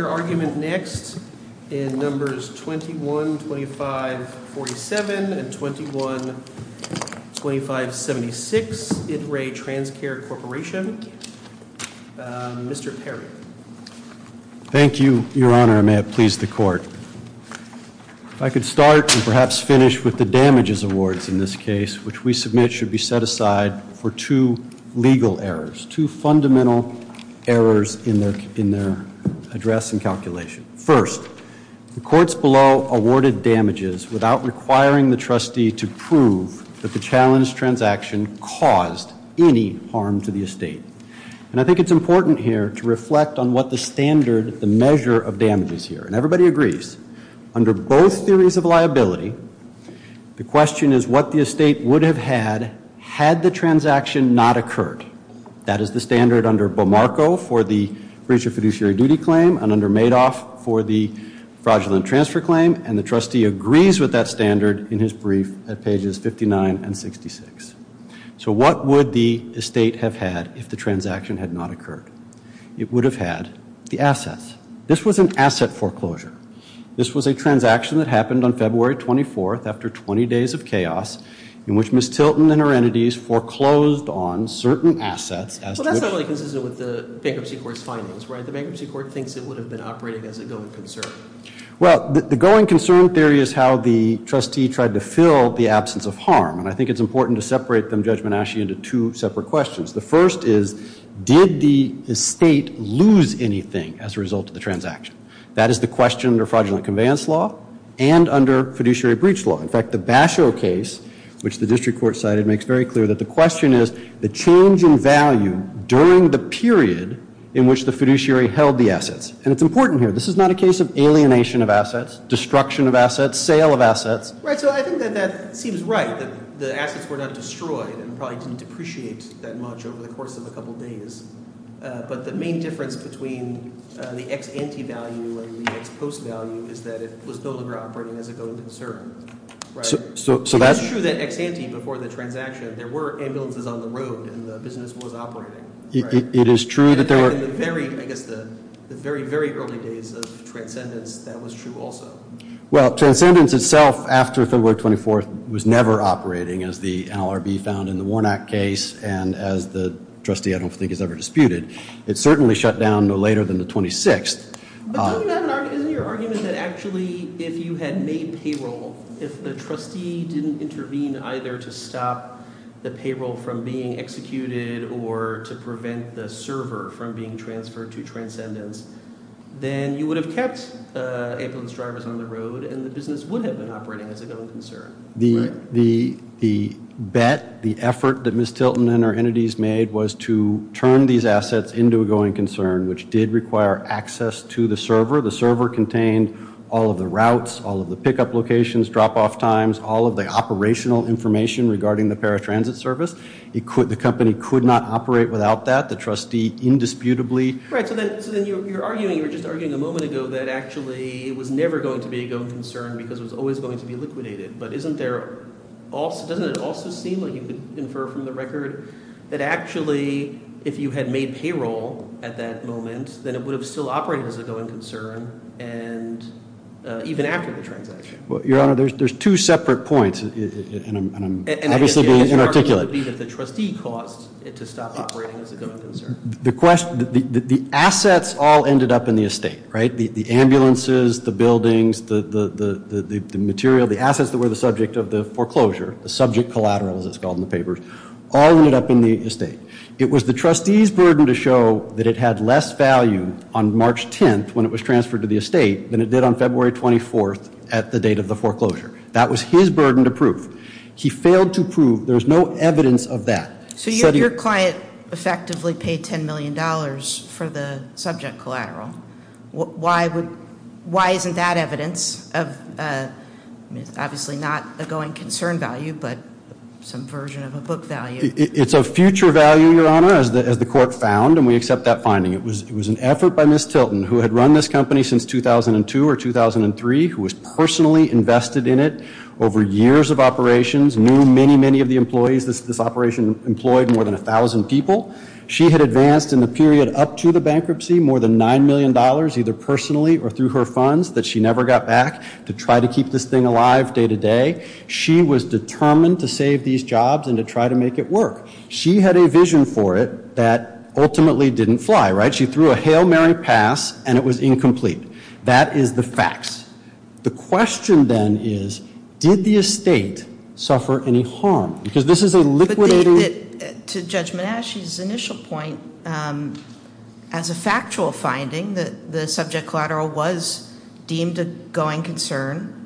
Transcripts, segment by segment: Your argument next in numbers 21-2547 and 21-2576, It Re TransCare Corporation, Mr. Perry. Thank you, Your Honor, and may it please the Court. If I could start and perhaps finish with the damages awards in this case, which we submit should be set aside for two legal errors, two fundamental errors in their address and calculation. First, the courts below awarded damages without requiring the trustee to prove that the challenge transaction caused any harm to the estate, and I think it's important here to reflect on what the standard, the measure of damage is here, and everybody agrees. Under both theories of liability, the question is what the estate would have had had the transaction not occurred. That is the standard under Bamarco for the breach of fiduciary duty claim and under Madoff for the fraudulent transfer claim, and the trustee agrees with that standard in his brief at pages 59 and 66. So what would the estate have had if the transaction had not occurred? It would have had the assets. This was an asset foreclosure. This was a transaction that happened on February 24th after 20 days of chaos in which Ms. Tilton and her entities foreclosed on certain assets. Well, that's not really consistent with the Bankruptcy Court's findings, right? The Bankruptcy Court thinks it would have been operating as a going concern. Well, the going concern theory is how the trustee tried to fill the absence of harm, and I think it's important to separate them, Judge Manasci, into two separate questions. The first is did the estate lose anything as a result of the transaction? That is the question under fraudulent conveyance law and under fiduciary breach law. In fact, the Basho case, which the district court cited, makes very clear that the question is the change in value during the period in which the fiduciary held the assets, and it's important here. This is not a case of alienation of assets, destruction of assets, sale of assets. Right, so I think that that seems right, that the assets were not destroyed and probably didn't depreciate that much over the course of a couple days, but the main difference between the ex-ante value and the ex-post value is that it was no longer operating as a going concern, right? So that's true that ex-ante before the transaction, there were ambulances on the road, and the business was operating, right? It is true that there were. And in the very, I guess the very, very early days of transcendence, that was true also. Well, transcendence itself, after February 24th, was never operating, as the NLRB found in the Warnock case, and as the trustee, I don't think, has ever disputed. It certainly shut down no later than the 26th. But isn't your argument that actually, if you had made payroll, if the trustee didn't intervene either to stop the payroll from being executed or to prevent the server from being transferred to transcendence, then you would have kept ambulance drivers on the road, and the business would have been operating as a going concern, right? The bet, the effort that Ms. Tilton and her entities made was to turn these assets into a going concern, which did require access to the server. The server contained all of the routes, all of the pickup locations, drop-off times, all of the operational information regarding the paratransit service. The company could not operate without that. The trustee indisputably. Right, so then you're arguing, you were just arguing a moment ago, that actually it was never going to be a going concern, because it was always going to be liquidated. But isn't there, doesn't it also seem like you could infer from the record that actually, if you had made payroll at that moment, then it would have still operated as a going concern, and even after the transaction. Well, your honor, there's two separate points, and I'm obviously being inarticulate. And I guess your argument would be that the trustee caused it to stop operating as a going concern. The assets all ended up in the estate, right? The ambulances, the buildings, the material, the assets that were the subject of the foreclosure, the subject collateral as it's called in the papers, all ended up in the estate. It was the trustee's burden to show that it had less value on March 10th when it was transferred to the estate than it did on February 24th at the date of the foreclosure. That was his burden to prove. He failed to prove, there's no evidence of that. So your client effectively paid $10 million for the subject collateral. Why isn't that evidence of, obviously not a going concern value, but some version of a book value? It's a future value, your honor, as the court found, and we accept that finding. It was an effort by Ms. Tilton, who had run this company since 2002 or 2003, who was personally invested in it over years of operations, knew many, many of the employees this operation employed, more than 1,000 people. She had advanced in the period up to the bankruptcy more than $9 million either personally or through her funds that she never got back to try to keep this thing alive day to day. She was determined to save these jobs and to try to make it work. She had a vision for it that ultimately didn't fly, right? She threw a Hail Mary pass and it was incomplete. That is the facts. The question then is, did the estate suffer any harm? Because this is a liquidating- To Judge Menasche's initial point, as a factual finding, the subject collateral was deemed a going concern.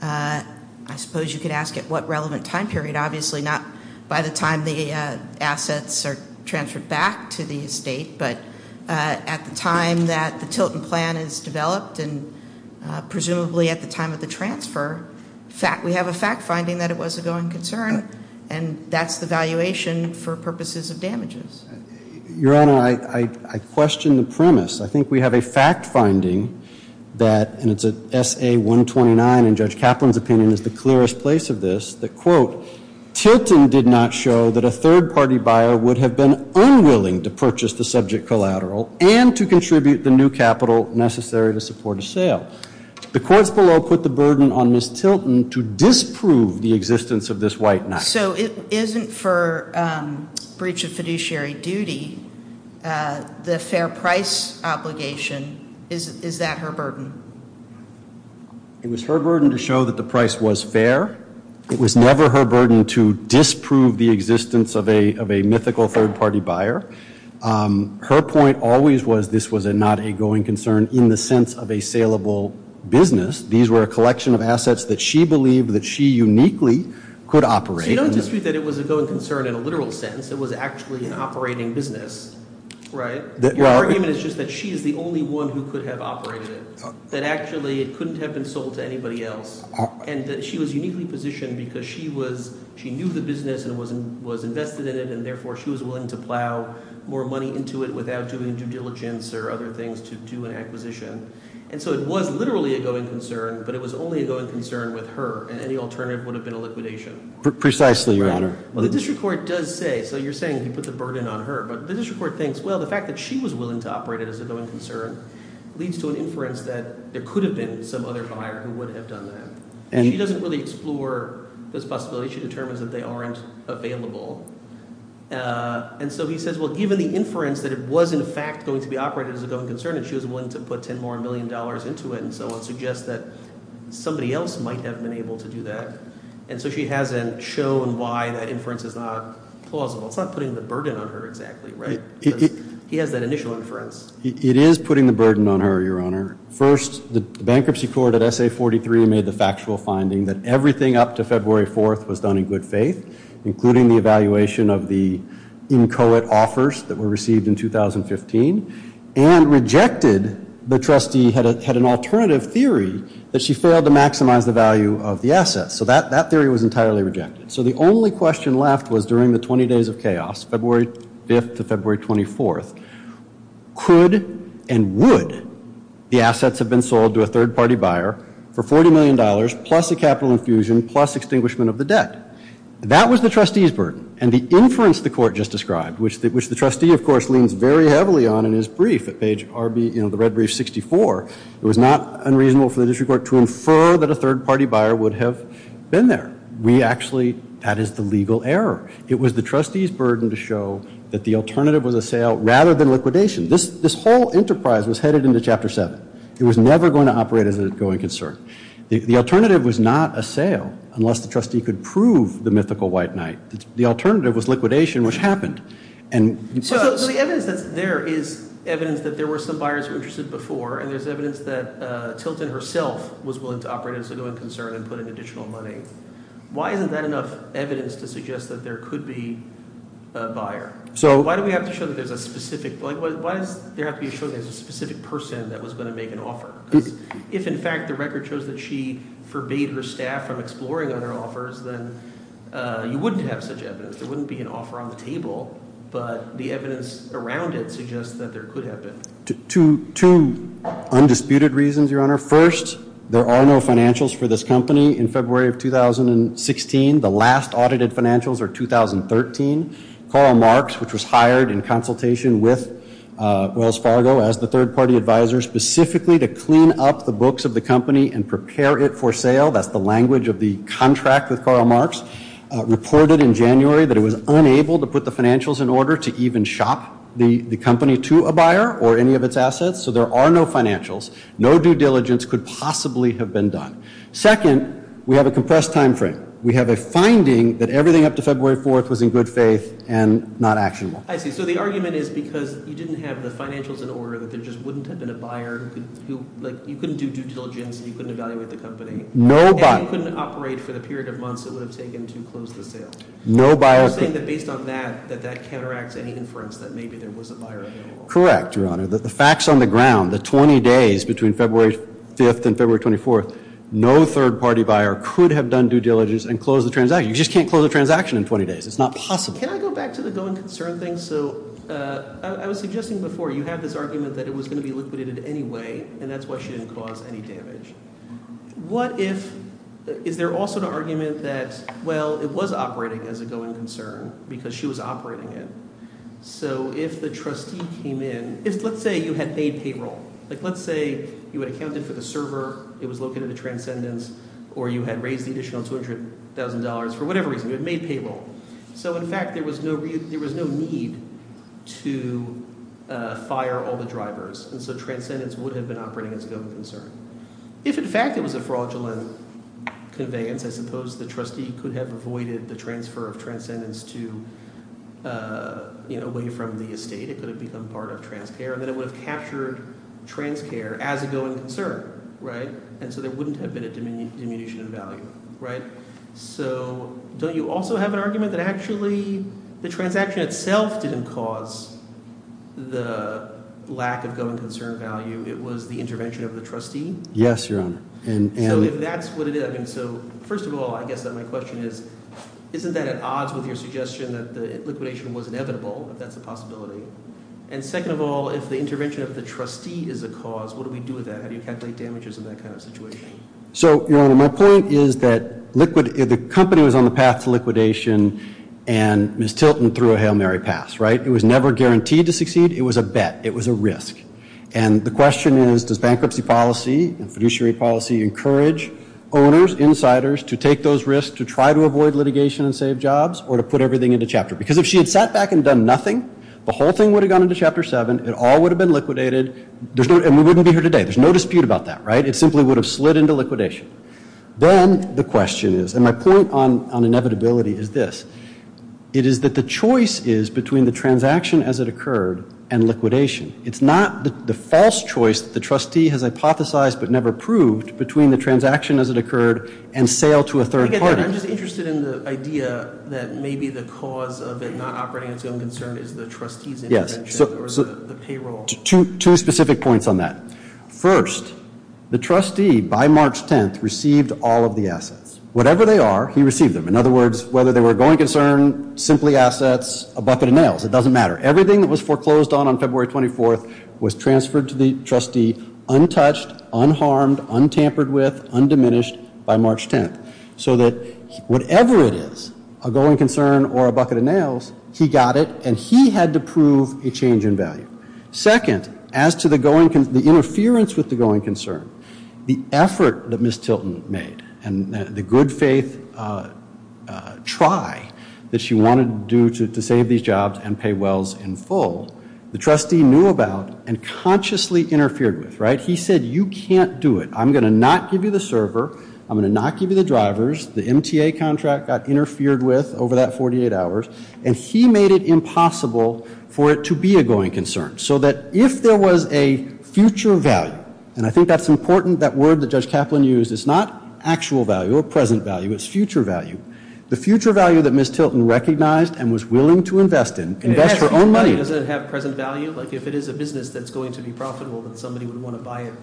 I suppose you could ask at what relevant time period. Obviously not by the time the assets are transferred back to the estate, but at the time that the Tilton plan is developed and presumably at the time of the transfer. We have a fact finding that it was a going concern, and that's the valuation for purposes of damages. Your Honor, I question the premise. I think we have a fact finding that, and it's a SA-129, and Judge Kaplan's opinion is the clearest place of this, that quote, Tilton did not show that a third subject collateral and to contribute the new capital necessary to support a sale. The courts below put the burden on Ms. Tilton to disprove the existence of this white knife. So it isn't for breach of fiduciary duty, the fair price obligation, is that her burden? It was her burden to show that the price was fair. It was never her burden to disprove the existence of a mythical third party buyer. Her point always was this was not a going concern in the sense of a saleable business. These were a collection of assets that she believed that she uniquely could operate. So you don't dispute that it was a going concern in a literal sense. It was actually an operating business, right? Your argument is just that she is the only one who could have operated it. That actually it couldn't have been sold to anybody else. And that she was uniquely positioned because she knew the business and was invested in it. And therefore she was willing to plow more money into it without doing due diligence or other things to do an acquisition. And so it was literally a going concern, but it was only a going concern with her. And any alternative would have been a liquidation. Precisely, your honor. Well, the district court does say, so you're saying you put the burden on her. But the district court thinks, well, the fact that she was willing to operate it as a going concern leads to an inference that there could have been some other buyer who would have done that. And she doesn't really explore this possibility. She determines that they aren't available. And so he says, well, given the inference that it was in fact going to be operated as a going concern and she was willing to put ten more million dollars into it and so on. Suggests that somebody else might have been able to do that. And so she hasn't shown why that inference is not plausible. It's not putting the burden on her exactly, right? He has that initial inference. It is putting the burden on her, your honor. First, the bankruptcy court at SA 43 made the factual finding that everything up to February 4th was done in good faith, including the evaluation of the inchoate offers that were received in 2015. And rejected, the trustee had an alternative theory that she failed to maximize the value of the assets. So that theory was entirely rejected. So the only question left was during the 20 days of chaos, February 5th to February 24th, could and would the assets have been sold to a third party buyer for $40 million plus a capital infusion plus extinguishment of the debt? That was the trustee's burden. And the inference the court just described, which the trustee, of course, leans very heavily on in his brief at page RB, you know, the red brief 64. It was not unreasonable for the district court to infer that a third party buyer would have been there. We actually, that is the legal error. It was the trustee's burden to show that the alternative was a sale rather than liquidation. This whole enterprise was headed into chapter seven. It was never going to operate as a going concern. The alternative was not a sale, unless the trustee could prove the mythical white knight. The alternative was liquidation, which happened. And- So the evidence that's there is evidence that there were some buyers who were interested before, and there's evidence that Tilton herself was willing to operate as a going concern and put in additional money. Why isn't that enough evidence to suggest that there could be a buyer? So why do we have to show that there's a specific, why does there have to be a show that there's a specific person that was going to make an offer? If in fact the record shows that she forbade her staff from exploring on her offers, then you wouldn't have such evidence. There wouldn't be an offer on the table, but the evidence around it suggests that there could have been. Two undisputed reasons, your honor. First, there are no financials for this company in February of 2016. The last audited financials are 2013. Karl Marx, which was hired in consultation with Wells Fargo as the third party advisor, specifically to clean up the books of the company and prepare it for sale. That's the language of the contract with Karl Marx. Reported in January that it was unable to put the financials in order to even shop the company to a buyer or any of its assets. So there are no financials. No due diligence could possibly have been done. Second, we have a compressed time frame. We have a finding that everything up to February 4th was in good faith and not actionable. I see, so the argument is because you didn't have the financials in order that there just wouldn't have been a buyer. You couldn't do due diligence and you couldn't evaluate the company. No buyer. You couldn't operate for the period of months it would have taken to close the sale. No buyer. You're saying that based on that, that that counteracts any inference that maybe there was a buyer available. Correct, your honor. The facts on the ground, the 20 days between February 5th and February 24th, no third party buyer could have done due diligence and closed the transaction. You just can't close a transaction in 20 days. It's not possible. Can I go back to the going concern thing? So I was suggesting before, you had this argument that it was going to be liquidated anyway, and that's why she didn't cause any damage. What if, is there also an argument that, well, it was operating as a going concern because she was operating it. So if the trustee came in, if let's say you had made payroll, like let's say you had accounted for the server, it was located at Transcendence, or you had raised the additional $200,000 for whatever reason, you had made payroll. So in fact, there was no need to fire all the drivers, and so Transcendence would have been operating as a going concern. If in fact it was a fraudulent conveyance, I suppose the trustee could have avoided the transfer of Transcendence to away from the estate. It could have become part of Transcare, and then it would have captured Transcare as a going concern, right? And so there wouldn't have been a diminution in value, right? So don't you also have an argument that actually the transaction itself didn't cause the lack of going concern value? It was the intervention of the trustee? Yes, Your Honor. And- So if that's what it is, I mean, so first of all, I guess that my question is, isn't that at odds with your suggestion that the liquidation was inevitable, if that's a possibility? And second of all, if the intervention of the trustee is a cause, what do we do with that? How do you calculate damages in that kind of situation? So, Your Honor, my point is that the company was on the path to liquidation, and Ms. Tilton threw a Hail Mary pass, right? It was never guaranteed to succeed. It was a bet. It was a risk. And the question is, does bankruptcy policy and fiduciary policy encourage owners, insiders to take those risks to try to avoid litigation and save jobs, or to put everything into chapter? Because if she had sat back and done nothing, the whole thing would have gone into Chapter 7. It all would have been liquidated, and we wouldn't be here today. There's no dispute about that, right? It simply would have slid into liquidation. Then the question is, and my point on inevitability is this, it is that the choice is between the transaction as it occurred and liquidation. It's not the false choice that the trustee has hypothesized but never proved between the transaction as it occurred and sale to a third party. I get that. I'm just interested in the idea that maybe the cause of it not operating as you're concerned is the trustee's intervention or the payroll. Two specific points on that. First, the trustee, by March 10th, received all of the assets. Whatever they are, he received them. In other words, whether they were a going concern, simply assets, a bucket of nails, it doesn't matter. Everything that was foreclosed on on February 24th was transferred to the trustee untouched, unharmed, untampered with, undiminished by March 10th so that whatever it is, a going concern or a bucket of nails, he got it and he had to prove a change in value. Second, as to the interference with the going concern, the effort that Ms. The trustee knew about and consciously interfered with, right? He said, you can't do it. I'm going to not give you the server, I'm going to not give you the drivers. The MTA contract got interfered with over that 48 hours, and he made it impossible for it to be a going concern. So that if there was a future value, and I think that's important, that word that Judge Kaplan used. It's not actual value or present value, it's future value. The future value that Ms. Tilton recognized and was willing to invest in, invest her own money in. Does it have present value? Like if it is a business that's going to be profitable, then somebody would want to buy it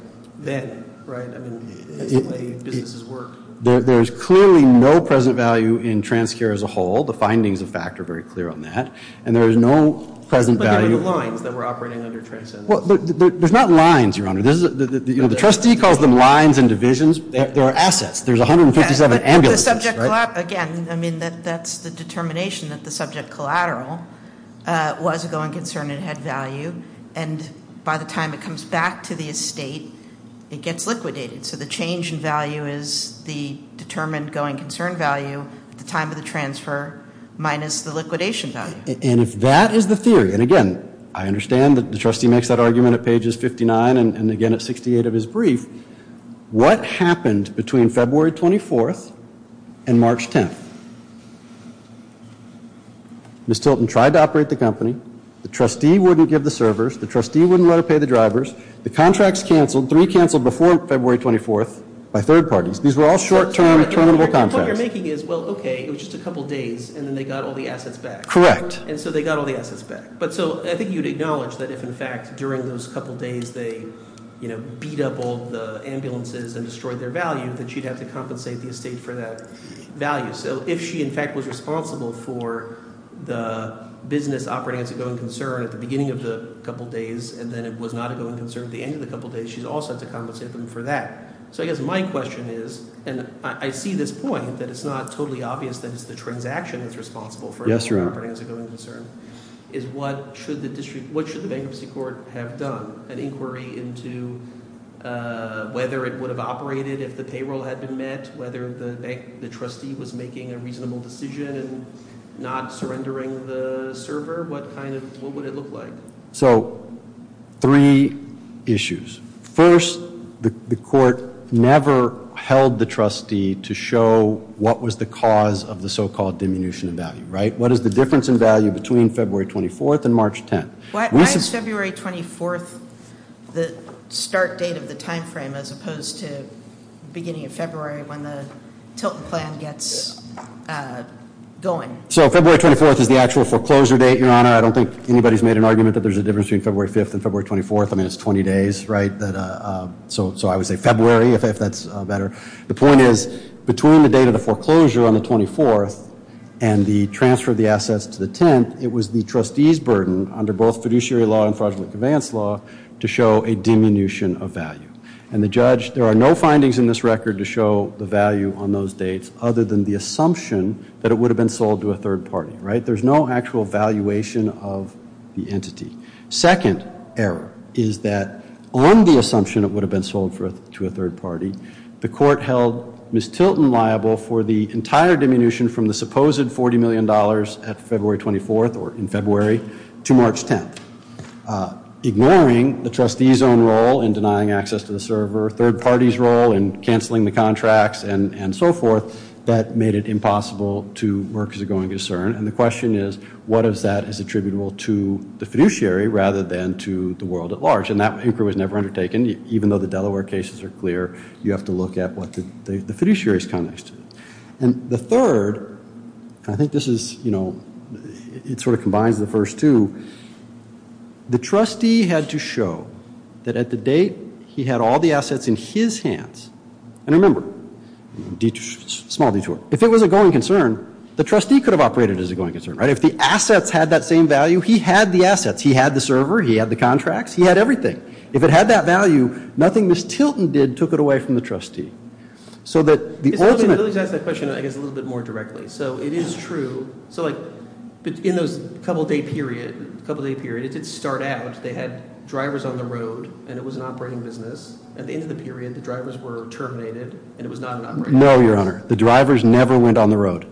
then, right? I mean, that's the way businesses work. There's clearly no present value in TransCare as a whole. The findings of fact are very clear on that. And there is no present value. But there are the lines that were operating under TransCare. Well, there's not lines, Your Honor. The trustee calls them lines and divisions. There are assets. There's 157 ambulances, right? Again, I mean, that's the determination that the subject collateral was a going concern and had value. And by the time it comes back to the estate, it gets liquidated. So the change in value is the determined going concern value at the time of the transfer minus the liquidation value. And if that is the theory, and again, I understand that the trustee makes that argument at pages 59 and again at 68 of his brief. What happened between February 24th and March 10th? Ms. Tilton tried to operate the company. The trustee wouldn't give the servers. The trustee wouldn't let her pay the drivers. The contracts canceled. Three canceled before February 24th by third parties. These were all short-term, terminable contracts. The point you're making is, well, okay, it was just a couple days, and then they got all the assets back. Correct. And so they got all the assets back. But so, I think you'd acknowledge that if, in fact, during those couple days they beat up all the ambulances and destroyed their value, that she'd have to compensate the estate for that value. So if she, in fact, was responsible for the business operating as a going concern at the beginning of the couple days, and then it was not a going concern at the end of the couple days, she's also had to compensate them for that. So I guess my question is, and I see this point, that it's not totally obvious that it's the transaction that's responsible for operating as a going concern, is what should the bankruptcy court have done? An inquiry into whether it would have operated if the payroll had been met, whether the trustee was making a reasonable decision and not surrendering the server? What would it look like? So, three issues. First, the court never held the trustee to show what was the cause of the so-called diminution of value, right? What is the difference in value between February 24th and March 10th? Why is February 24th the start date of the time frame as opposed to beginning of February when the Tilton plan gets going? So February 24th is the actual foreclosure date, Your Honor. I don't think anybody's made an argument that there's a difference between February 5th and February 24th. I mean, it's 20 days, right? So I would say February, if that's better. The point is, between the date of the foreclosure on the 24th and the transfer of the assets to the 10th, it was the trustee's burden under both fiduciary law and fraudulent conveyance law to show a diminution of value. And the judge, there are no findings in this record to show the value on those dates other than the assumption that it would have been sold to a third party, right? There's no actual valuation of the entity. Second error is that on the assumption it would have been sold to a third party, the court held Ms. Tilton liable for the entire diminution from the supposed $40 million at February 24th, or in February, to March 10th. Ignoring the trustee's own role in denying access to the server, third party's role in canceling the contracts, and so forth. That made it impossible to work as a going concern. And the question is, what of that is attributable to the fiduciary rather than to the world at large? And that inquiry was never undertaken, even though the Delaware cases are clear, you have to look at what the fiduciary's context is. And the third, I think this is, you know, it sort of combines the first two. The trustee had to show that at the date he had all the assets in his hands. And remember, small detour, if it was a going concern, the trustee could have operated as a going concern, right? If the assets had that same value, he had the assets. He had the server. He had the contracts. He had everything. If it had that value, nothing Ms. Tilton did took it away from the trustee. So that the ultimate- Let me just ask that question, I guess, a little bit more directly. So it is true, so like, in those couple day period, it did start out, they had drivers on the road, and it was an operating business. At the end of the period, the drivers were terminated, and it was not an operating business. No, your honor. The drivers never went on the road.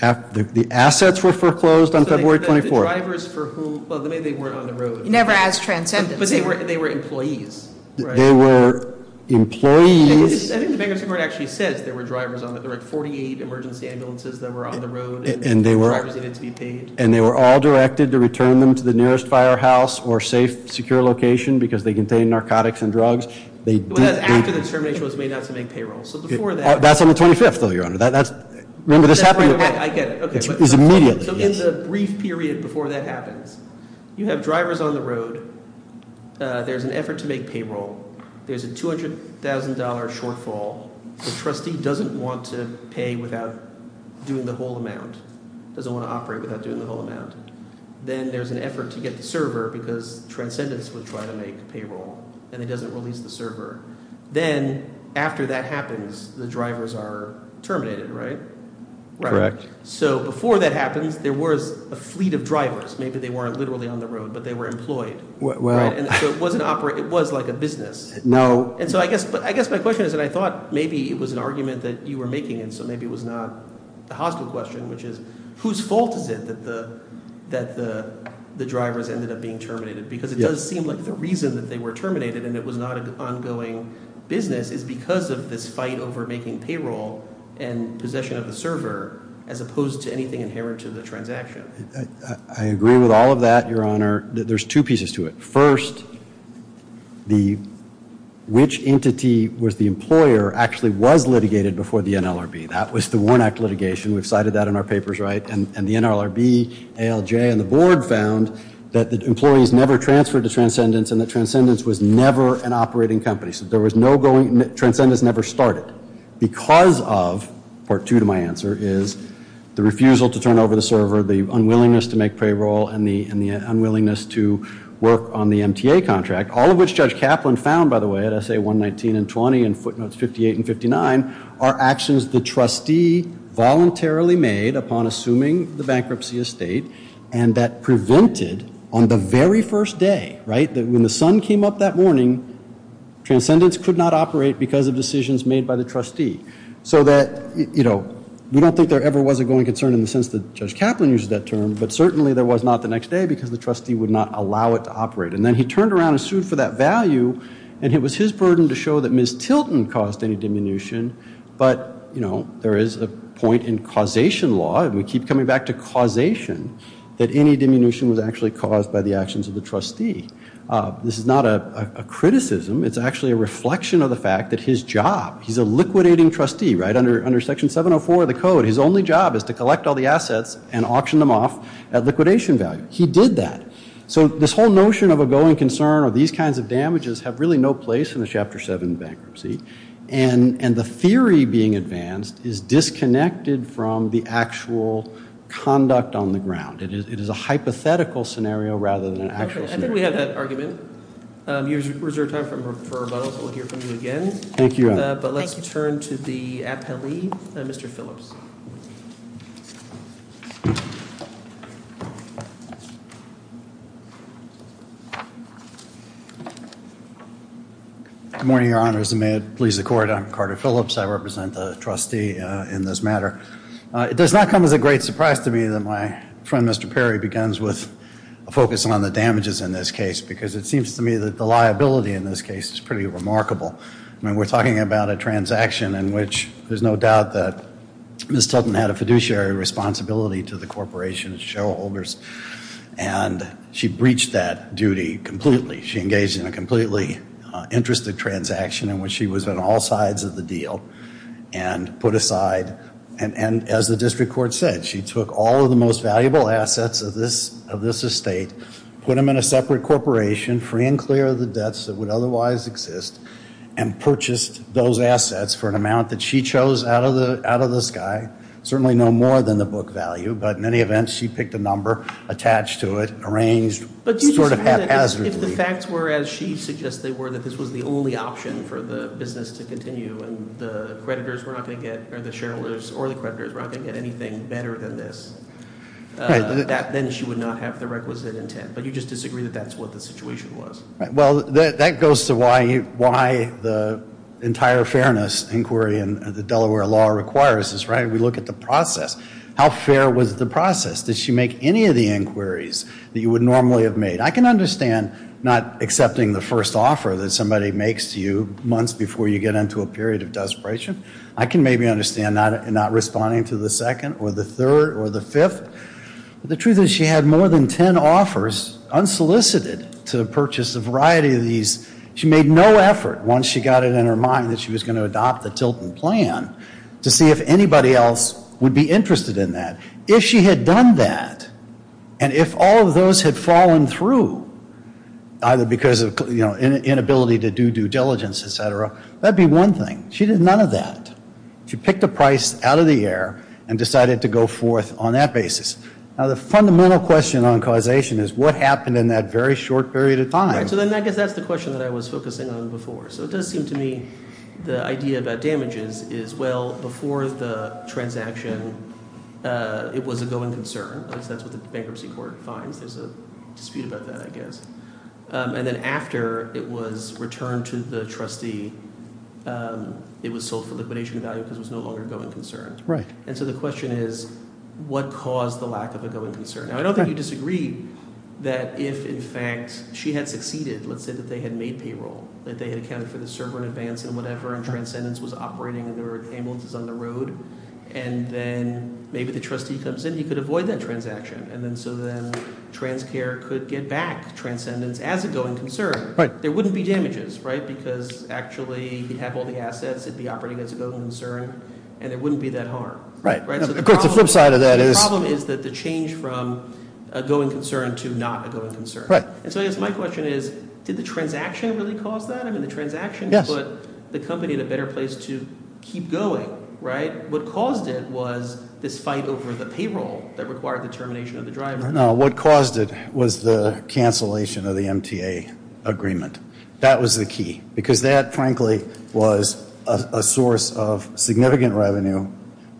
The assets were foreclosed on February 24th. So the drivers for whom, well, maybe they weren't on the road. Never as transcendent. But they were employees, right? They were employees. I think the bankruptcy court actually says there were drivers on the road, 48 emergency ambulances that were on the road, and drivers needed to be paid. And they were all directed to return them to the nearest firehouse or safe, secure location, because they contained narcotics and drugs. They did- After the termination was made, that's the main payroll. So before that- That's on the 25th, though, your honor. Remember, this happened- I get it, okay. It's immediately. So in the brief period before that happens, you have drivers on the road. There's an effort to make payroll. There's a $200,000 shortfall. The trustee doesn't want to pay without doing the whole amount, doesn't want to operate without doing the whole amount. Then there's an effort to get the server, because transcendence would try to make payroll, and it doesn't release the server. Then, after that happens, the drivers are terminated, right? Correct. So before that happens, there was a fleet of drivers. Maybe they weren't literally on the road, but they were employed. Right, and so it wasn't operate, it was like a business. No. And so I guess my question is, and I thought maybe it was an argument that you were making, and so maybe it was not a hostile question, which is, whose fault is it that the drivers ended up being terminated? Because it does seem like the reason that they were terminated, and it was not an ongoing business, is because of this fight over making payroll and possession of the server, as opposed to anything inherent to the transaction. I agree with all of that, your honor. There's two pieces to it. First, which entity was the employer actually was litigated before the NLRB? That was the Warnock litigation. We've cited that in our papers, right? And the NLRB, ALJ, and the board found that the employees never transferred to Transcendence, and that Transcendence was never an operating company. So there was no going, Transcendence never started, because of, part two to my answer, is the refusal to turn over the server, the unwillingness to make payroll, and the unwillingness to work on the MTA contract. All of which Judge Kaplan found, by the way, at SA119 and 20, and footnotes 58 and 59, are actions the trustee voluntarily made upon assuming the bankruptcy estate, and that prevented, on the very first day, right, when the sun came up that morning, Transcendence could not operate because of decisions made by the trustee. So that, you know, we don't think there ever was a going concern in the sense that Judge Kaplan used that term, but certainly there was not the next day, because the trustee would not allow it to operate. And then he turned around and sued for that value, and it was his burden to show that Ms. Tilton caused any diminution. But, you know, there is a point in causation law, and we keep coming back to causation, that any diminution was actually caused by the actions of the trustee. This is not a criticism, it's actually a reflection of the fact that his job, he's a liquidating trustee, right, under Section 704 of the Code, his only job is to collect all the assets and auction them off at liquidation value. He did that. So this whole notion of a going concern, or these kinds of damages, have really no place in the Chapter 7 bankruptcy. And the theory being advanced is disconnected from the actual conduct on the ground. It is a hypothetical scenario rather than an actual scenario. Okay, I think we have that argument. You have reserved time for rebuttal, so we'll hear from you again. Thank you, Adam. But let's turn to the appellee, Mr. Phillips. Good morning, Your Honors. And may it please the Court, I'm Carter Phillips. I represent the trustee in this matter. It does not come as a great surprise to me that my friend, Mr. Perry, begins with a focus on the damages in this case. Because it seems to me that the liability in this case is pretty remarkable. I mean, we're talking about a transaction in which there's no doubt that Ms. Tubman had a fiduciary responsibility to the corporation's shareholders, and she breached that duty completely. She engaged in a completely interesting transaction in which she was on all sides of the deal and put aside, and as the district court said, she took all of the most valuable assets of this estate, put them in a separate corporation, free and clear of the debts that would otherwise exist, and purchased those assets for an amount that she chose out of the sky. Certainly no more than the book value, but in any event, she picked a number, attached to it, arranged sort of haphazardly. If the facts were as she suggests they were, that this was the only option for the business to continue, and the creditors were not going to get, or the shareholders, or the creditors were not going to get anything better than this. Then she would not have the requisite intent, but you just disagree that that's what the situation was. Well, that goes to why the entire fairness inquiry in the Delaware law requires this, right? We look at the process. How fair was the process? Did she make any of the inquiries that you would normally have made? I can understand not accepting the first offer that somebody makes to you months before you get into a period of desperation. I can maybe understand not responding to the second, or the third, or the fifth. The truth is she had more than ten offers unsolicited to purchase a variety of these. She made no effort, once she got it in her mind that she was going to adopt the Tilton plan, to see if anybody else would be interested in that. If she had done that, and if all of those had fallen through, either because of, you know, inability to do due diligence, et cetera, that would be one thing. She did none of that. She picked a price out of the air and decided to go forth on that basis. Now, the fundamental question on causation is what happened in that very short period of time? Right, so then I guess that's the question that I was focusing on before. So it does seem to me the idea about damages is, well, before the transaction, it was a going concern. At least that's what the bankruptcy court finds. There's a dispute about that, I guess. And then after it was returned to the trustee, it was sold for liquidation value because it was no longer a going concern. Right. And so the question is, what caused the lack of a going concern? Now, I don't think you disagree that if, in fact, she had succeeded, let's say that they had made payroll, that they had accounted for the server in advance and whatever, and Transcendence was operating, and there were ambulances on the road. And then maybe the trustee comes in, he could avoid that transaction. And then so then TransCare could get back Transcendence as a going concern. Right. There wouldn't be damages, right? Because actually, he'd have all the assets, it'd be operating as a going concern, and it wouldn't be that hard. Right. Of course, the flip side of that is- The problem is that the change from a going concern to not a going concern. Right. And so I guess my question is, did the transaction really cause it? I mean, the transaction put the company in a better place to keep going, right? What caused it was this fight over the payroll that required the termination of the driver. No, what caused it was the cancellation of the MTA agreement. That was the key because that, frankly, was a source of significant revenue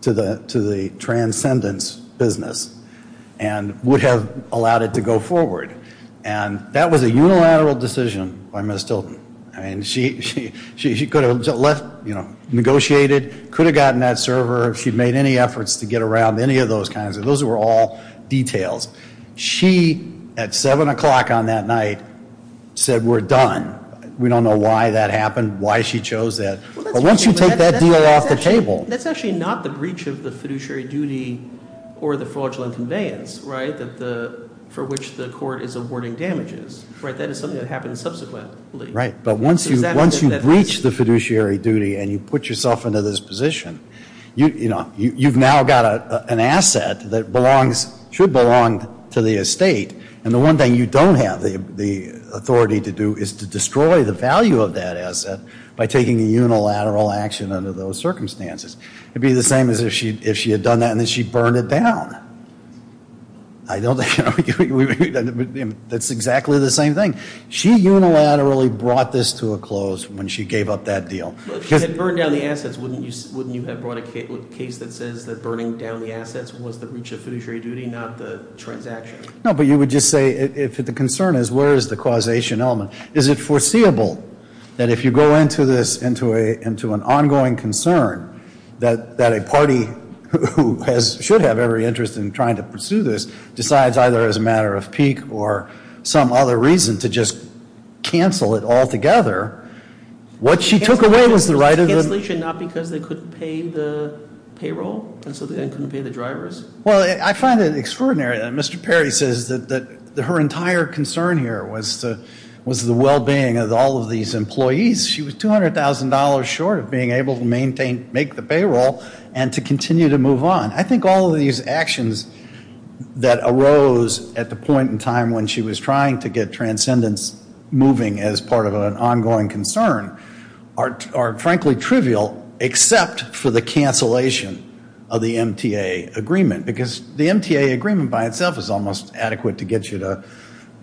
to the Transcendence business and would have allowed it to go forward. And that was a unilateral decision by Ms. Tilton. I mean, she could have left, negotiated, could have gotten that server, if she'd made any efforts to get around any of those kinds of, those were all details. She, at 7 o'clock on that night, said, we're done. We don't know why that happened, why she chose that. But once you take that deal off the table- That's actually not the breach of the fiduciary duty or the fraudulent conveyance, right? For which the court is awarding damages, right? That is something that happens subsequently. Right, but once you breach the fiduciary duty and you put yourself into this position, you've now got an asset that should belong to the estate. And the one thing you don't have the authority to do is to destroy the value of that asset by taking a unilateral action under those circumstances. It'd be the same as if she had done that and then she burned it down. I don't think, that's exactly the same thing. She unilaterally brought this to a close when she gave up that deal. If she had burned down the assets, wouldn't you have brought a case that says that burning down the assets was the breach of fiduciary duty, not the transaction? No, but you would just say, if the concern is where is the causation element? Is it foreseeable that if you go into this into an ongoing concern that a party who should have every interest in trying to pursue this decides either as a matter of peak or some other reason to just cancel it all together, what she took away was the right of the- Cancellation not because they couldn't pay the payroll, and so they couldn't pay the drivers? Well, I find it extraordinary that Mr. Perry says that her entire concern here was the well-being of all of these employees. She was $200,000 short of being able to make the payroll and to continue to move on. I think all of these actions that arose at the point in time when she was trying to get transcendence moving as part of an ongoing concern are frankly trivial except for the cancellation of the MTA agreement. Because the MTA agreement by itself is almost adequate to get you to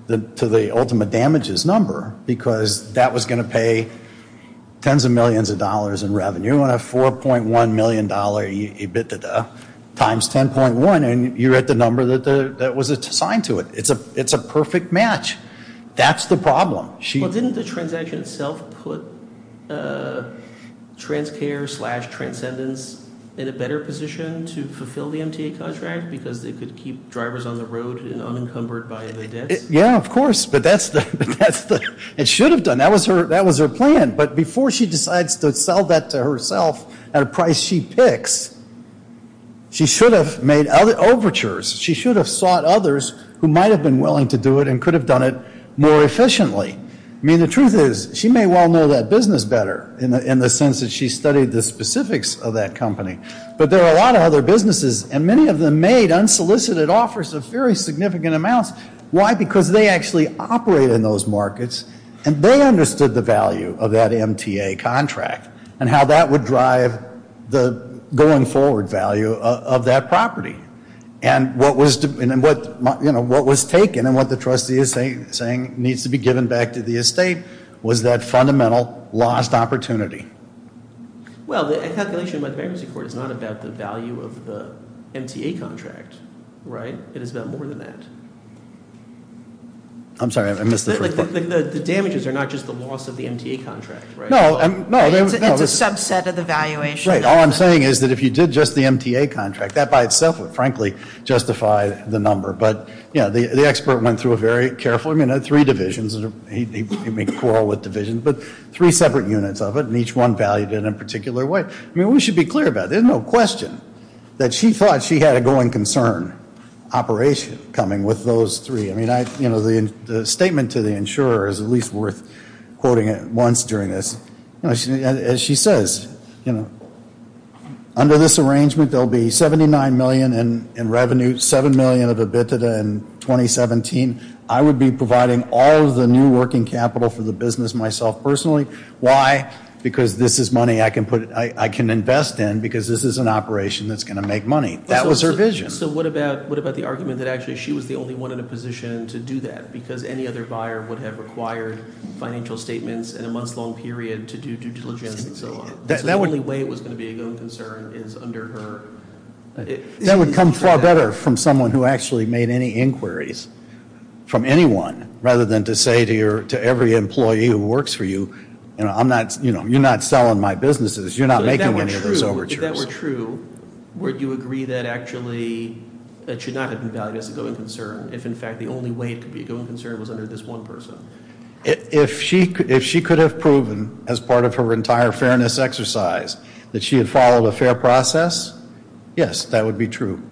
the ultimate damages number. Because that was going to pay tens of millions of dollars in revenue on a $4.1 million times 10.1. And you're at the number that was assigned to it. It's a perfect match. That's the problem. She- Didn't the transaction itself put Transcare slash Transcendence in a better position to fulfill the MTA contract? Because they could keep drivers on the road and unencumbered by their debts? Yeah, of course. But that's the- It should have done. That was her plan. But before she decides to sell that to herself at a price she picks, she should have made overtures. She should have sought others who might have been willing to do it and could have done it more efficiently. I mean, the truth is she may well know that business better in the sense that she studied the specifics of that company. But there are a lot of other businesses and many of them made unsolicited offers of very significant amounts. Why? Because they actually operate in those markets and they understood the value of that MTA contract. And how that would drive the going forward value of that property. And what was taken and what the trustee is saying needs to be given back to the estate was that fundamental lost opportunity. Well, the calculation by the bankruptcy court is not about the value of the MTA contract, right? It is about more than that. I'm sorry, I missed the first part. The damages are not just the loss of the MTA contract, right? No, no. It's a subset of the valuation. Right, all I'm saying is that if you did just the MTA contract, that by itself would frankly justify the number. But the expert went through it very carefully. I mean, there are three divisions. He may quarrel with divisions, but three separate units of it, and each one valued in a particular way. I mean, we should be clear about it. There's no question that she thought she had a going concern operation coming with those three. I mean, the statement to the insurer is at least worth quoting it once during this. As she says, under this arrangement, there'll be 79 million in revenue, 7 million of EBITDA in 2017. I would be providing all of the new working capital for the business myself personally. Why? Because this is money I can invest in, because this is an operation that's going to make money. That was her vision. So what about the argument that actually she was the only one in a position to do that? Because any other buyer would have required financial statements in a month's long period to do due diligence and so on. That's the only way it was going to be a going concern is under her. That would come far better from someone who actually made any inquiries. From anyone, rather than to say to every employee who works for you, you're not selling my businesses. You're not making any of those overtures. If that were true, would you agree that actually that should not have been valued as a going concern, if in fact the only way it could be a going concern was under this one person? If she could have proven, as part of her entire fairness exercise, that she had followed a fair process, yes, that would be true.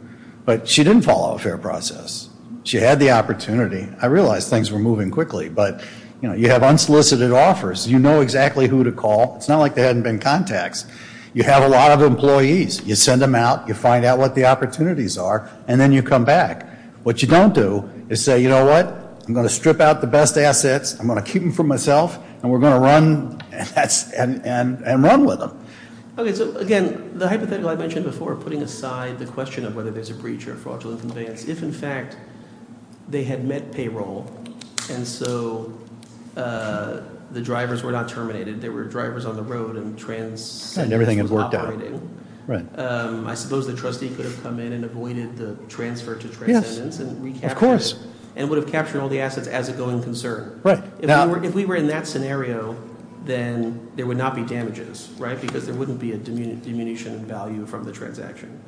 But she didn't follow a fair process. She had the opportunity. I realize things were moving quickly, but you have unsolicited offers. You know exactly who to call. It's not like there hadn't been contacts. You have a lot of employees. You send them out, you find out what the opportunities are, and then you come back. What you don't do is say, you know what? I'm going to strip out the best assets, I'm going to keep them for myself, and we're going to run and run with them. Okay, so again, the hypothetical I mentioned before, putting aside the question of whether there's a breach or fraudulent conveyance. If in fact, they had met payroll, and so the drivers were not terminated, there were drivers on the road and transcendence was operating. I suppose the trustee could have come in and avoided the transfer to transcendence and recaptured it. Of course. And would have captured all the assets as a going concern. Right. If we were in that scenario, then there would not be damages, right? Because there wouldn't be a diminution in value from the transaction.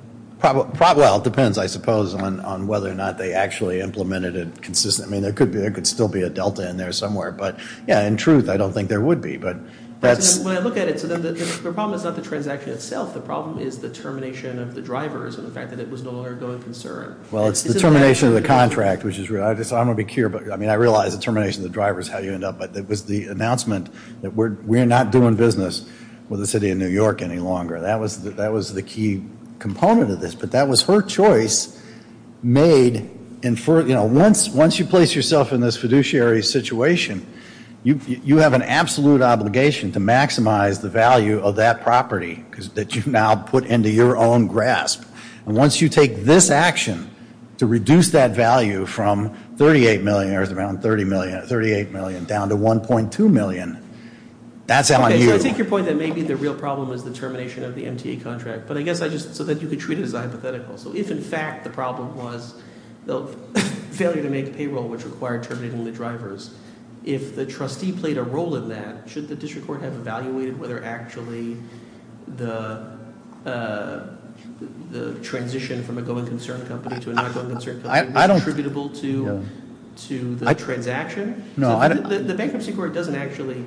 Well, it depends, I suppose, on whether or not they actually implemented it consistently. There could still be a delta in there somewhere, but yeah, in truth, I don't think there would be, but that's- When I look at it, the problem is not the transaction itself. The problem is the termination of the drivers and the fact that it was no longer a going concern. Well, it's the termination of the contract, which is, I'm going to be clear, but I realize the termination of the driver is how you end up, but it was the announcement that we're not doing business with the city of New York any longer. That was the key component of this, but that was her choice made. And once you place yourself in this fiduciary situation, you have an absolute obligation to maximize the value of that property that you now put into your own grasp. And once you take this action to reduce that value from 38 million, there's around 38 million, down to 1.2 million, that's how I view it. Okay, so I take your point that maybe the real problem is the termination of the MTA contract, but I guess I just, so that you could treat it as a hypothetical. So if, in fact, the problem was the failure to make payroll, which required terminating the drivers, if the trustee played a role in that, should the district court have evaluated whether actually the transition from a going concern company to a not going concern company was attributable to the transaction? The bankruptcy court doesn't actually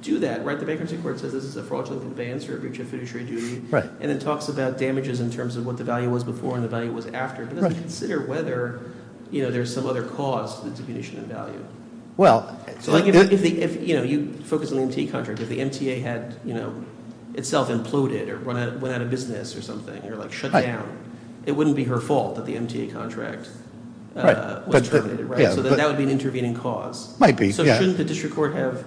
do that, right? The bankruptcy court says this is a fraudulent advance for a breach of fiduciary duty, and it talks about damages in terms of what the value was before and the value was after. But it doesn't consider whether there's some other cause to the diminution of value. So if you focus on the MTA contract, if the MTA had itself imploded or went out of business or something, or shut down, it wouldn't be her fault that the MTA contract was terminated, right? So that would be an intervening cause. Might be, yeah. So shouldn't the district court have,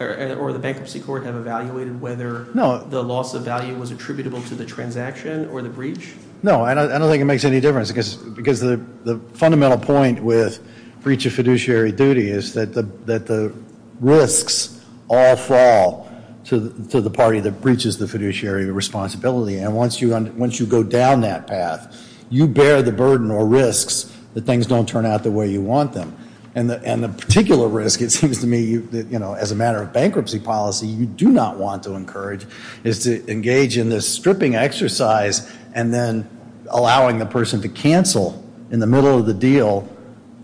or the bankruptcy court have evaluated whether the loss of value was attributable to the transaction or the breach? No, I don't think it makes any difference, because the fundamental point with breach of fiduciary duty is that the risks all fall to the party that breaches the fiduciary responsibility. And once you go down that path, you bear the burden or risks that things don't turn out the way you want them. And the particular risk, it seems to me, as a matter of bankruptcy policy, you do not want to encourage, is to engage in this stripping exercise and then allowing the person to cancel in the middle of the deal,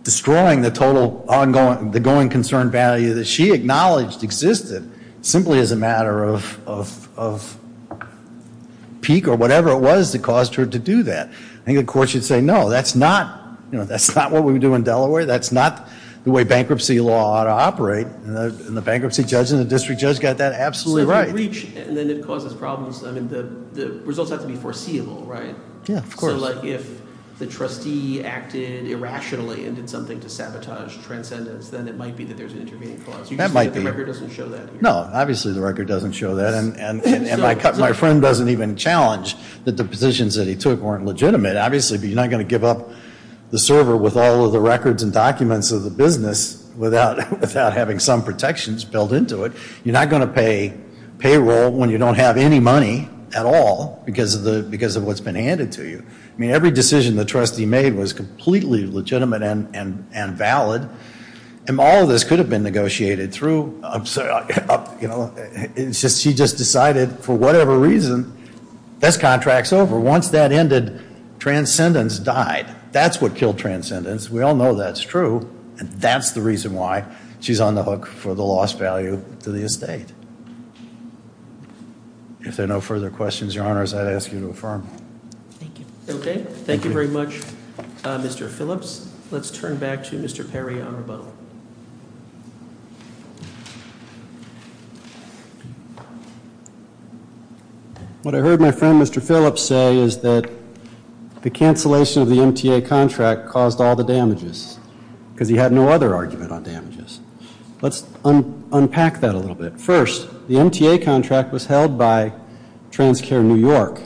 destroying the total ongoing, the going concern value that she acknowledged existed, simply as a matter of peak or whatever it was that caused her to do that. I think the court should say, no, that's not what we would do in Delaware. That's not the way bankruptcy law ought to operate. And the bankruptcy judge and the district judge got that absolutely right. So if you breach and then it causes problems, I mean, the results have to be foreseeable, right? Yeah, of course. So if the trustee acted irrationally and did something to sabotage transcendence, then it might be that there's an intervening clause. You just said that the record doesn't show that here. No, obviously the record doesn't show that, and my friend doesn't even challenge that the positions that he took weren't legitimate. Obviously, but you're not going to give up the server with all of the records and documents of the business without having some protections built into it. You're not going to pay payroll when you don't have any money at all because of what's been handed to you. I mean, every decision the trustee made was completely legitimate and valid. And all of this could have been negotiated through, I'm sorry, she just decided for whatever reason, this contract's over, once that ended, transcendence died. That's what killed transcendence, we all know that's true. And that's the reason why she's on the hook for the lost value to the estate. If there are no further questions, your honors, I'd ask you to affirm. Thank you. Okay, thank you very much, Mr. Phillips. Let's turn back to Mr. Perry on rebuttal. What I heard my friend, Mr. Phillips say is that the cancellation of the MTA contract caused all the damages because he had no other argument on damages. Let's unpack that a little bit. First, the MTA contract was held by TransCare New York,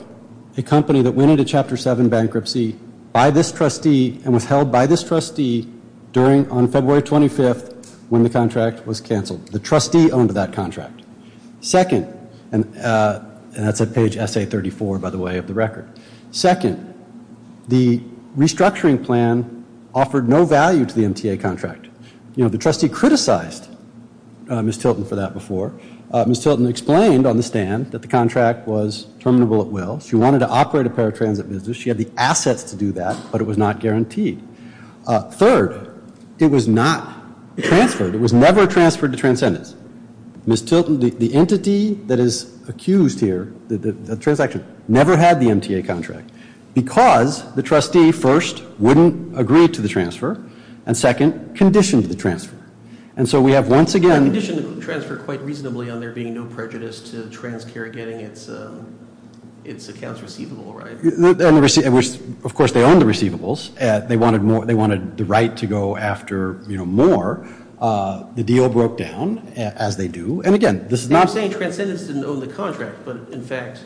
a company that went into Chapter 7 bankruptcy by this trustee and was held by this trustee during, on February 25th when the contract was canceled. The trustee owned that contract. Second, and that's at page SA 34, by the way, of the record. Second, the restructuring plan offered no value to the MTA contract. You know, the trustee criticized Ms. Tilton for that before. Ms. Tilton explained on the stand that the contract was terminable at will. She wanted to operate a paratransit business. She had the assets to do that, but it was not guaranteed. Third, it was not transferred. It was never transferred to Transcendence. Ms. Tilton, the entity that is accused here, the transaction, never had the MTA contract because the trustee, first, wouldn't agree to the transfer, and second, conditioned the transfer. And so we have once again- Conditioned the transfer quite reasonably on there being no prejudice to TransCare getting its accounts receivable, right? Of course, they owned the receivables. They wanted the right to go after more. The deal broke down, as they do, and again, this is not- I'm saying Transcendence didn't own the contract, but in fact,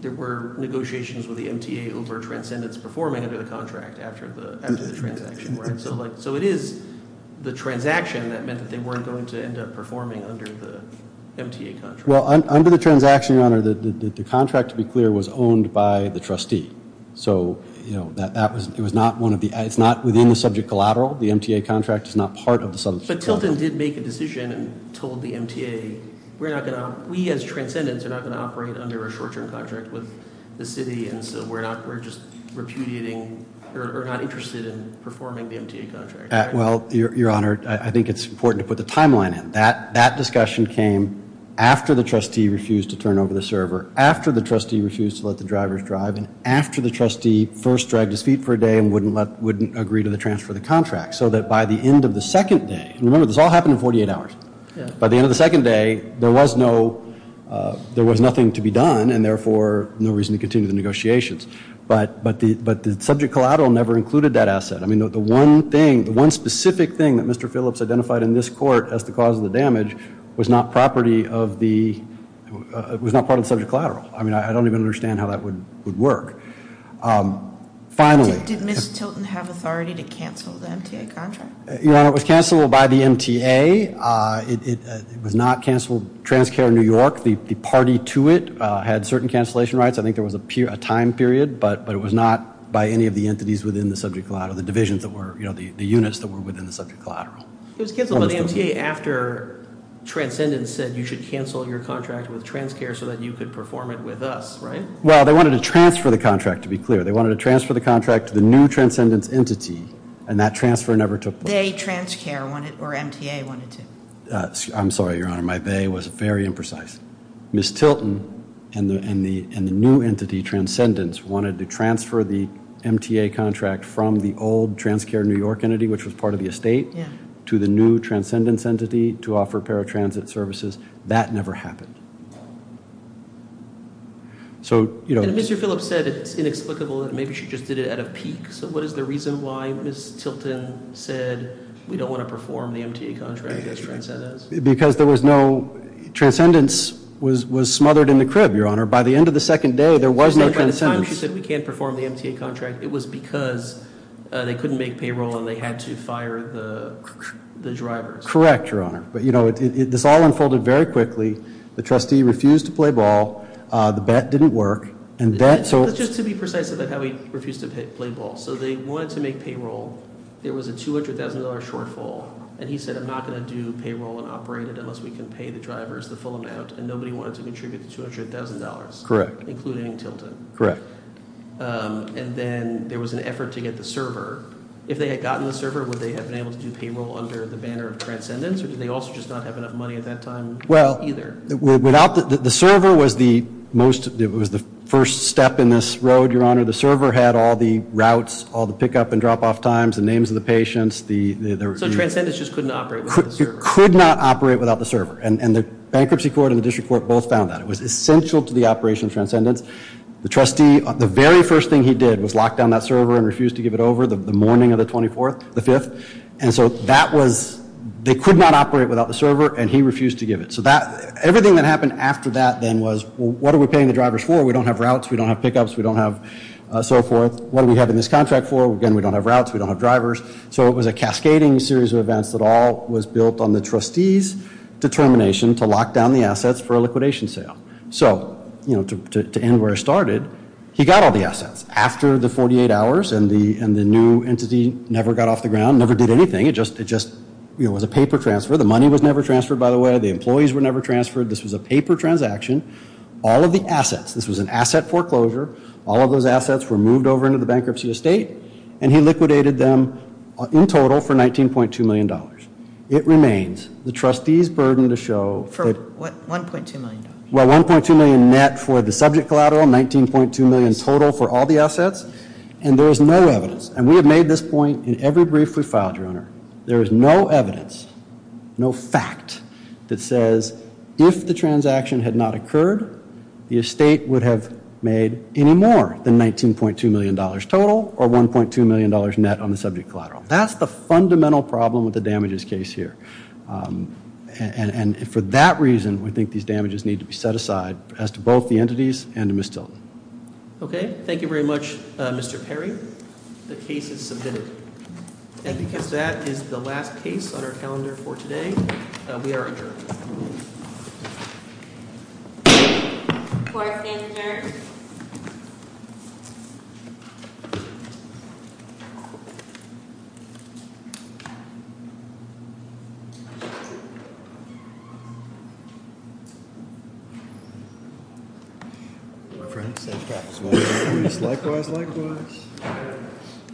there were negotiations with the MTA over Transcendence performing under the contract after the transaction, right? So it is the transaction that meant that they weren't going to end up performing under the MTA contract. Well, under the transaction, your honor, the contract, to be clear, was owned by the trustee. So it's not within the subject collateral. The MTA contract is not part of the subject collateral. But Tilton did make a decision and told the MTA, we as Transcendence are not going to operate under a short-term contract with the city. And so we're just repudiating, or not interested in performing the MTA contract. Well, your honor, I think it's important to put the timeline in. That discussion came after the trustee refused to turn over the server, after the trustee refused to let the drivers drive, and after the trustee first dragged his feet for a day and wouldn't agree to the transfer of the contract. So that by the end of the second day, and remember, this all happened in 48 hours. By the end of the second day, there was nothing to be done, and therefore, no reason to continue the negotiations. But the subject collateral never included that asset. I mean, the one thing, the one specific thing that Mr. Phillips identified in this court as the cause of the damage, was not property of the, was not part of the subject collateral. I mean, I don't even understand how that would work. Finally- Did Ms. Tilton have authority to cancel the MTA contract? Your honor, it was canceled by the MTA. It was not canceled, TransCare New York, the party to it, had certain cancellation rights. I think there was a time period, but it was not by any of the entities within the subject collateral, the divisions that were, you know, the units that were within the subject collateral. It was canceled by the MTA after Transcendence said you should cancel your contract with TransCare so that you could perform it with us, right? Well, they wanted to transfer the contract, to be clear. They wanted to transfer the contract to the new Transcendence entity, and that transfer never took place. They, TransCare, wanted, or MTA, wanted to. I'm sorry, your honor, my they was very imprecise. Ms. Tilton and the new entity, Transcendence, wanted to transfer the MTA contract from the old TransCare New York entity, which was part of the estate, to the new Transcendence entity to offer paratransit services. That never happened. So, you know- And Mr. Phillips said it's inexplicable that maybe she just did it out of pique. So what is the reason why Ms. Tilton said we don't want to perform the MTA contract as Transcendence? Because there was no, Transcendence was smothered in the crib, your honor. By the end of the second day, there was no Transcendence. By the time she said we can't perform the MTA contract, it was because they couldn't make payroll and they had to fire the drivers. Correct, your honor. But you know, this all unfolded very quickly. The trustee refused to play ball, the bet didn't work, and that so- Just to be precise about how he refused to play ball. So they wanted to make payroll, there was a $200,000 shortfall, and he said, I'm not going to do payroll and operate it unless we can pay the drivers the full amount, and nobody wanted to contribute the $200,000. Correct. Including Tilton. Correct. And then there was an effort to get the server. If they had gotten the server, would they have been able to do payroll under the banner of Transcendence, or did they also just not have enough money at that time? Your honor, the server had all the routes, all the pick up and drop off times, the names of the patients, the- So Transcendence just couldn't operate without the server. Could not operate without the server, and the bankruptcy court and the district court both found that. It was essential to the operation of Transcendence. The trustee, the very first thing he did was lock down that server and refused to give it over the morning of the 24th, the 5th. And so that was, they could not operate without the server, and he refused to give it. So everything that happened after that then was, what are we paying the drivers for? We don't have routes. We don't have pick ups. We don't have so forth. What are we having this contract for? Again, we don't have routes. We don't have drivers. So it was a cascading series of events that all was built on the trustee's determination to lock down the assets for a liquidation sale. So, you know, to end where I started, he got all the assets after the 48 hours, and the new entity never got off the ground, never did anything. It just, you know, was a paper transfer. The money was never transferred, by the way. The employees were never transferred. This was a paper transaction. All of the assets, this was an asset foreclosure. All of those assets were moved over into the bankruptcy estate, and he liquidated them in total for $19.2 million. It remains the trustee's burden to show that. For what, $1.2 million? Well, $1.2 million net for the subject collateral, $19.2 million total for all the assets. And there is no evidence, and we have made this point in every brief we filed, your honor. There is no evidence, no fact that says if the transaction had not occurred, the estate would have made any more than $19.2 million total, or $1.2 million net on the subject collateral. That's the fundamental problem with the damages case here, and for that reason, we think these damages need to be set aside as to both the entities and to Ms. Tilton. Okay, thank you very much, Mr. Perry. The case is submitted. And because that is the last case on our calendar for today, we are adjourned. Court is adjourned. Friends, likewise, likewise. Friends, likewise, likewise.